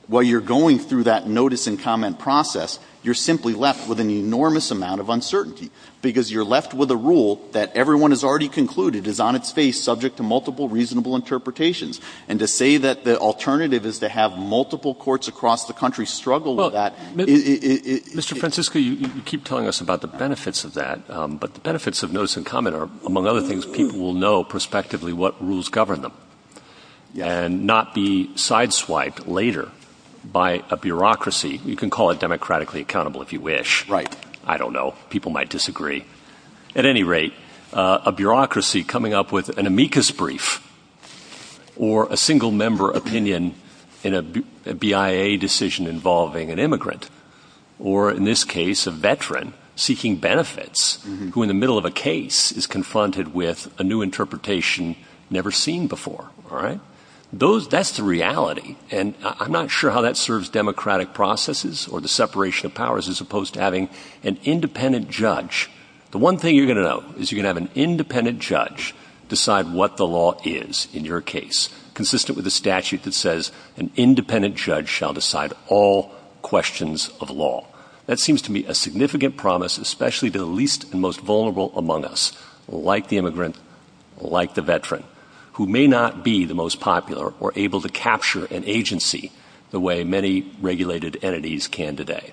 While you're going through that notice and comment process, you're simply left with an enormous amount of uncertainty because you're left with a rule that everyone has already concluded is on its face, subject to multiple reasonable interpretations. And to say that the alternative is to have multiple courts across the country struggle with that- Mr. Francisco, you keep telling us about the benefits of that. But the benefits of notice and comment are, among other things, people will know prospectively what rules govern them. And not be sideswiped later by a bureaucracy. You can call it democratically accountable if you wish. Right. I don't know. People might disagree. At any rate, a bureaucracy coming up with an amicus brief or a single member opinion in a BIA decision involving an immigrant. Or in this case, a veteran seeking benefits who in the middle of a case is confronted with a new interpretation never seen before. All right. Those, that's the reality. And I'm not sure how that serves democratic processes or the separation of powers as opposed to having an independent judge The one thing you're gonna know is you're gonna have an independent judge decide what the law is in your case consistent with the statute that says an independent judge shall decide all questions of law. That seems to me a significant promise especially to the least and most vulnerable among us like the immigrant, like the veteran who may not be the most popular or able to capture an agency the way many regulated entities can today.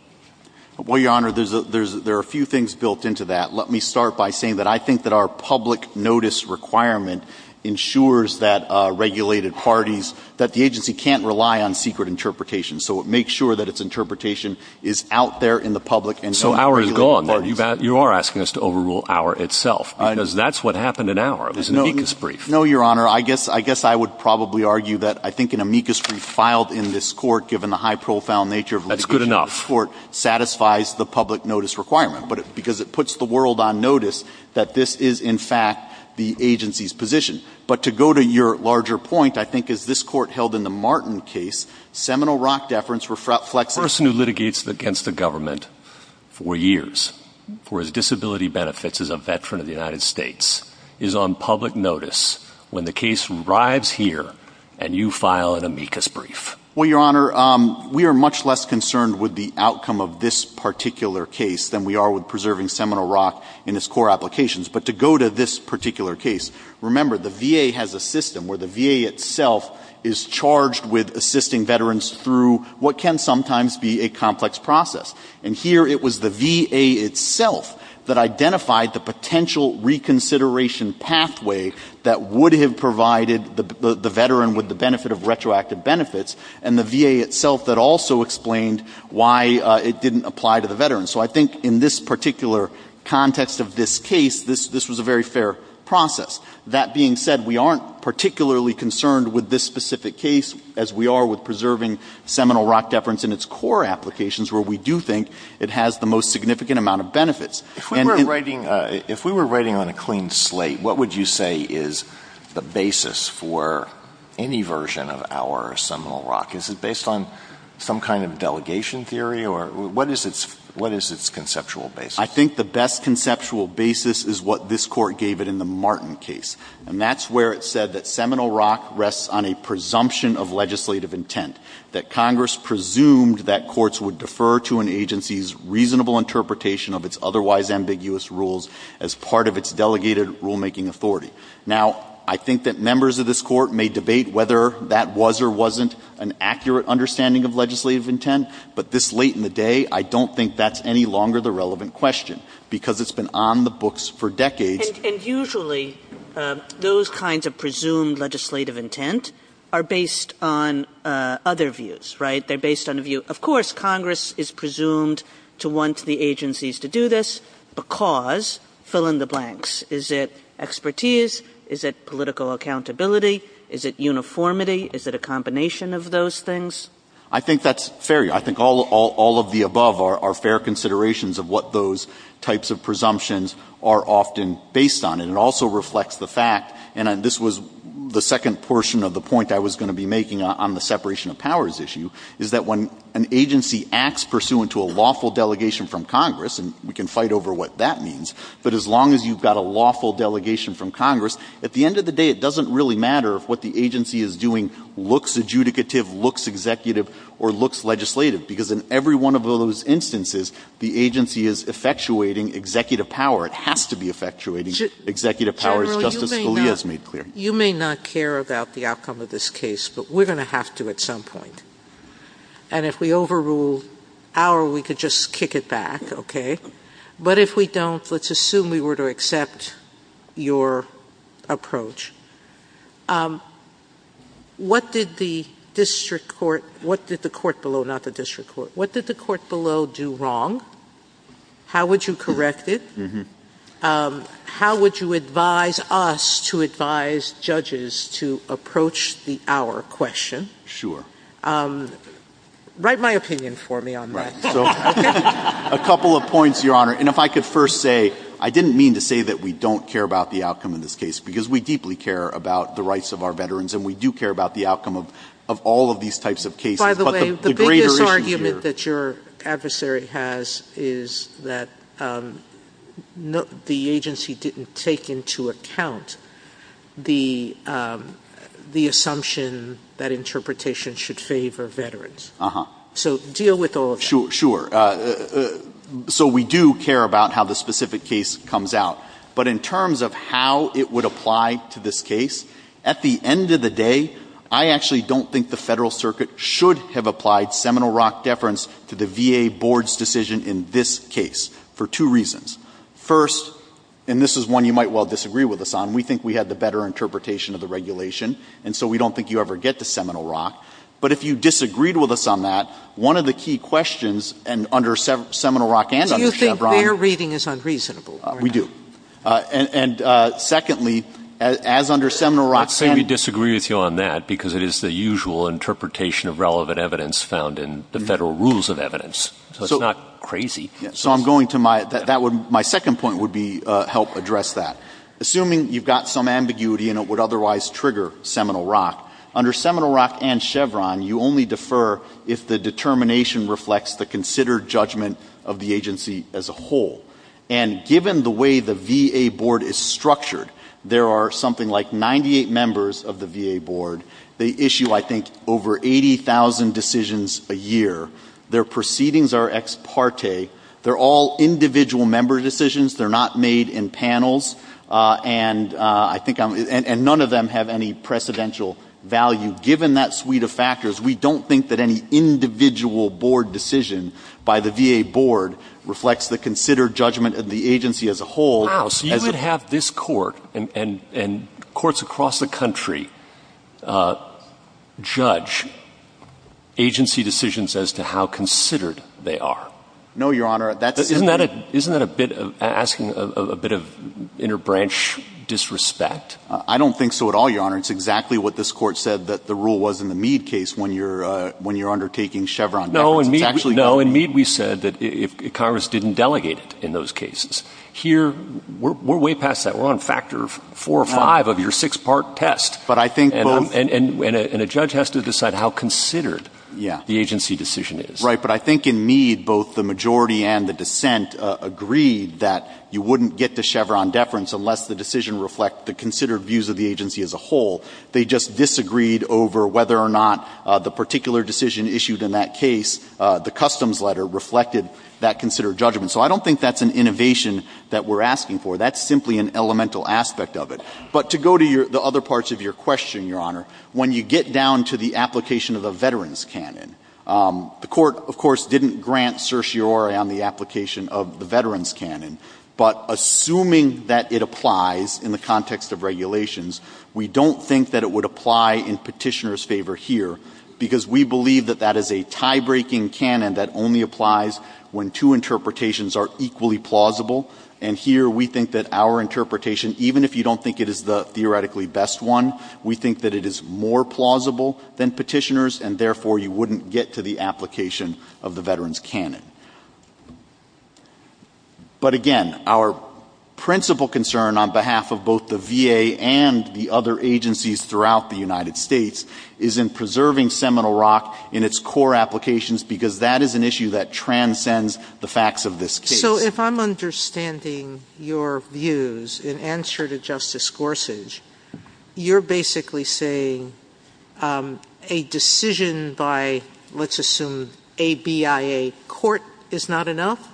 Well, Your Honor, there are a few things built into that. Let me start by saying that I think that our public notice requirement ensures that regulated parties, that the agency can't rely on secret interpretation. So it makes sure that its interpretation is out there in the public. And so our is gone. You are asking us to overrule our itself because that's what happened in our amicus brief. No, Your Honor. I guess I would probably argue that I think an amicus brief filed in this court given the high profile nature of the court. Satisfies the public notice requirement because it puts the world on notice that this is in fact the agency's position. But to go to your larger point, I think as this court held in the Martin case, seminal rock deference reflects. Person who litigates against the government for years for his disability benefits as a veteran of the United States is on public notice when the case arrives here and you file an amicus brief. Well, Your Honor, we are much less concerned with the outcome of this particular case than we are with preserving seminal rock in its core applications. But to go to this particular case, remember the VA has a system where the VA itself is charged with assisting veterans through what can sometimes be a complex process. And here it was the VA itself that identified the potential reconsideration pathway that would have provided the veteran with the benefit of retroactive benefits and the VA itself that also explained why it didn't apply to the veteran. So I think in this particular context of this case, this was a very fair process. That being said, we aren't particularly concerned with this specific case as we are with preserving seminal rock deference in its core applications where we do think it has the most significant amount of benefits. If we were writing on a clean slate, what would you say is the basis for any version of our seminal rock? Is it based on some kind of delegation theory or what is its conceptual basis? I think the best conceptual basis is what this court gave it in the Martin case. And that's where it said that seminal rock rests on a presumption of legislative intent that Congress presumed that courts would defer to an agency's reasonable interpretation of its otherwise ambiguous rules as part of its delegated rulemaking authority. Now, I think that members of this court may debate whether that was or wasn't an accurate understanding of legislative intent, but this late in the day, I don't think that's any longer the relevant question because it's been on the books for decades. And usually those kinds of presumed legislative intent are based on other views, right? They're based on a view. Of course, Congress is presumed to want the agencies to do this because fill in the blanks. Is it expertise? Is it political accountability? Is it uniformity? Is it a combination of those things? I think that's fair. I think all of the above are fair considerations of what those types of presumptions are often based on. And it also reflects the fact, and this was the second portion of the point I was gonna be making on the separation of powers issue, is that when an agency acts pursuant to a lawful delegation from Congress, and we can fight over what that means, but as long as you've got a lawful delegation from Congress, at the end of the day, it doesn't really matter if what the agency is doing looks adjudicative, looks executive, or looks legislative, because in every one of those instances, the agency is effectuating executive power. It has to be effectuating executive power as Justice Scalia has made clear. You may not care about the outcome of this case, but we're gonna have to at some point. And if we overrule our, we could just kick it back, okay? But if we don't, let's assume we were to accept your approach. What did the district court, what did the court below, not the district court, what did the court below do wrong? How would you correct it? How would you advise us to advise judges to approach the our question? Sure. Write my opinion for me on that. So, a couple of points, Your Honor. And if I could first say, I didn't mean to say that we don't care about the outcome of this case, because we deeply care about the rights of our veterans, and we do care about the outcome of all of these types of cases. By the way, the biggest argument that your adversary has is that the agency didn't take into account the assumption that interpretation should favor veterans. So, deal with all of that. Sure. So, we do care about how the specific case comes out. But in terms of how it would apply to this case, at the end of the day, I actually don't think the federal circuit should have applied Seminole Rock deference to the VA board's decision in this case, for two reasons. First, and this is one you might well disagree with us on, we think we had the better interpretation of the regulation, and so we don't think you ever get to Seminole Rock. But if you disagreed with us on that, one of the key questions, and under Seminole Rock and under Chevron- Do you think their reading is unreasonable? We do. And secondly, as under Seminole Rock- Let's say we disagree with you on that, because it is the usual interpretation of relevant evidence found in the federal rules of evidence. So, it's not crazy. So, I'm going to my, my second point would be help address that. Assuming you've got some ambiguity and it would otherwise trigger Seminole Rock, under Seminole Rock and Chevron, you only defer if the determination reflects the considered judgment of the agency as a whole. And given the way the VA board is structured, there are something like 98 members of the VA board. They issue, I think, over 80,000 decisions a year. Their proceedings are ex parte. They're all individual member decisions. They're not made in panels. And I think, and none of them have any precedential value. Given that suite of factors, we don't think that any individual board decision by the VA board reflects the considered judgment of the agency as a whole. Wow, so you would have this court and courts across the country judge agency decisions as to how considered they are. No, Your Honor, that's- Isn't that a bit of, asking a bit of inner branch disrespect? I don't think so at all, Your Honor. It's exactly what this court said, that the rule was in the Meade case when you're undertaking Chevron deference. No, in Meade we said that Congress didn't delegate it in those cases. Here, we're way past that. We're on factor four or five of your six-part test. But I think both- And a judge has to decide how considered the agency decision is. Right, but I think in Meade, both the majority and the dissent agreed that you wouldn't get to Chevron deference unless the decision reflect the considered views of the agency as a whole. They just disagreed over whether or not the particular decision issued in that case, the customs letter, reflected that considered judgment. So I don't think that's an innovation that we're asking for. That's simply an elemental aspect of it. But to go to the other parts of your question, Your Honor, when you get down to the application of the veterans canon, the court, of course, didn't grant certiorari on the application of the veterans canon, but assuming that it applies in the context of regulations, we don't think that it would apply in petitioner's favor here, because we believe that that is a tie-breaking canon that only applies when two interpretations are equally plausible. And here, we think that our interpretation, even if you don't think it is the theoretically best one, we think that it is more plausible than petitioners, and therefore, you wouldn't get to the application of the veterans canon. But again, our principal concern on behalf of both the VA and the other agencies throughout the United States is in preserving Seminole Rock in its core applications, because that is an issue that transcends the facts of this case. So if I'm understanding your views in answer to Justice Gorsuch, you're basically saying a decision by, let's assume, a BIA court is not enough,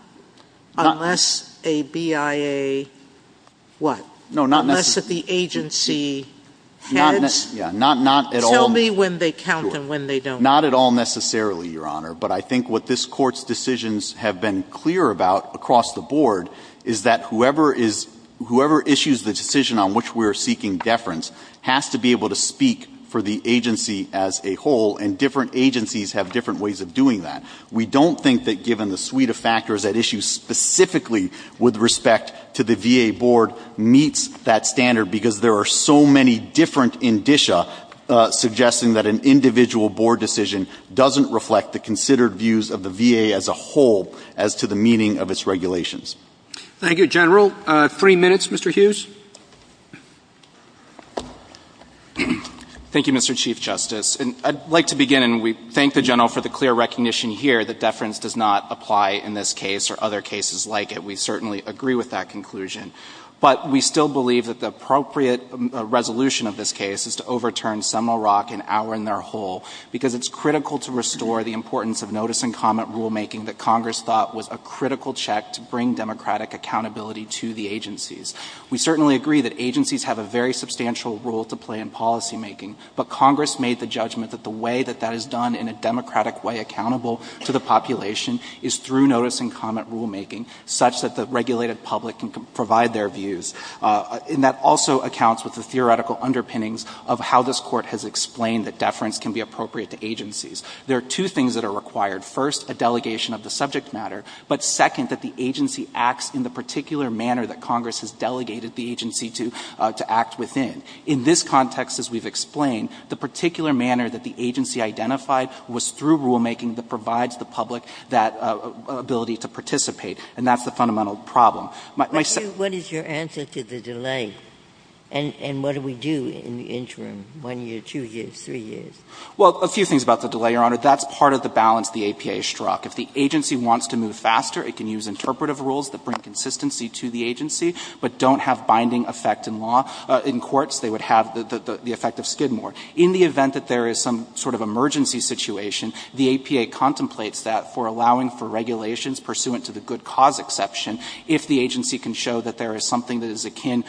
unless a BIA, what? Unless the agency heads? Yeah, not at all. Tell me when they count and when they don't. Not at all necessarily, Your Honor, but I think what this court's decisions have been clear about across the board is that whoever issues the decision on which we're seeking deference has to be able to speak for the agency as a whole, and different agencies have different ways of doing that. We don't think that given the suite of factors at issue specifically with respect to the VA board meets that standard, because there are so many different indicia suggesting that an individual board decision doesn't reflect the considered views of the VA as a whole as to the meaning of its regulations. Thank you, General. Three minutes, Mr. Hughes. Thank you, Mr. Chief Justice. And I'd like to begin, and we thank the General for the clear recognition here that deference does not apply in this case or other cases like it. We certainly agree with that conclusion. But we still believe that the appropriate resolution of this case is to overturn Seminole Rock and our in their whole, because it's critical to restore the importance of notice and comment rulemaking that Congress thought was a critical check to bring democratic accountability to the agencies. We certainly agree that agencies have a very substantial role to play in policymaking, but Congress made the judgment that the way that that is done in a democratic way accountable to the population is through notice and comment rulemaking, such that the regulated public can provide their views. And that also accounts with the theoretical underpinnings of how this court has explained that deference can be appropriate to agencies. There are two things that are required. First, a delegation of the subject matter, but second, that the agency acts in the particular manner that Congress has delegated the agency to act within. In this context, as we've explained, the particular manner that the agency identified was through rulemaking that provides the public that ability to participate. And that's the fundamental problem. What is your answer to the delay? And what do we do in the interim, one year, two years, three years? Well, a few things about the delay, Your Honor. That's part of the balance the APA struck. If the agency wants to move faster, it can use interpretive rules that bring consistency to the agency, but don't have binding effect in law. In courts, they would have the effect of skid more. In the event that there is some sort of emergency situation, the APA contemplates that for allowing for regulations pursuant to the good cause exception, if the agency can show that there is something that is akin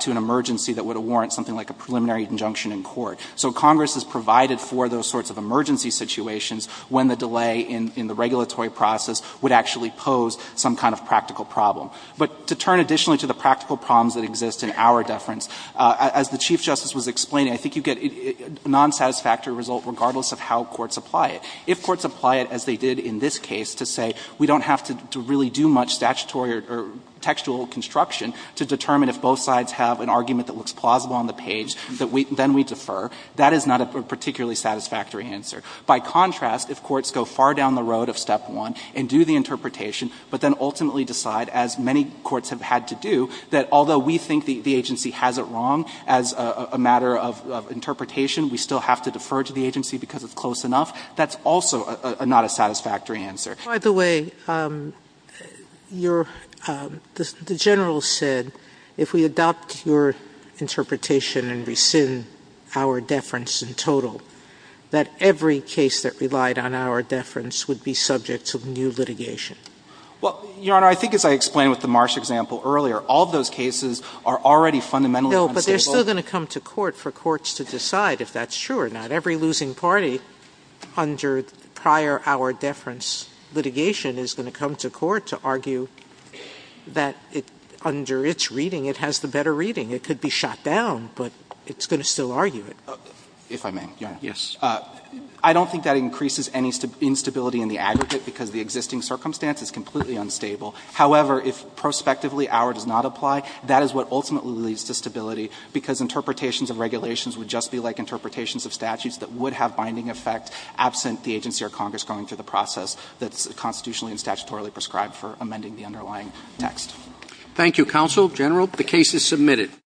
to an emergency that would warrant something like a preliminary injunction in court. So Congress has provided for those sorts of emergency situations when the delay in the regulatory process would actually pose some kind of practical problem. But to turn additionally to the practical problems that exist in our deference, as the Chief Justice was explaining, I think you get a non-satisfactory result regardless of how courts apply it. If courts apply it as they did in this case to say, we don't have to really do much statutory or textual construction to determine if both sides have an argument that looks plausible on the page, then we defer, that is not a particularly satisfactory answer. By contrast, if courts go far down the road of step one and do the interpretation, but then ultimately decide, as many courts have had to do, that although we think the agency has it wrong as a matter of interpretation, we still have to defer to the agency because it's close enough, that's also not a satisfactory answer. By the way, the General said, if we adopt your interpretation and rescind our deference in total, that every case that relied on our deference would be subject to new litigation. Well, Your Honor, I think as I explained with the Marsh example earlier, all of those cases are already fundamentally unstable. No, but they're still going to come to court for courts to decide if that's true or not, every losing party under prior our deference litigation is going to come to court to argue that under its reading, it has the better reading. It could be shot down, but it's going to still argue it. If I may, Your Honor. Yes. I don't think that increases any instability in the aggregate because the existing circumstance is completely unstable. However, if prospectively our does not apply, that is what ultimately leads to stability because interpretations of regulations would just be like interpretations of statutes that would have binding effect absent the agency or Congress going through the process that's constitutionally and statutorily prescribed for amending the underlying text. Thank you, Counsel. General, the case is submitted.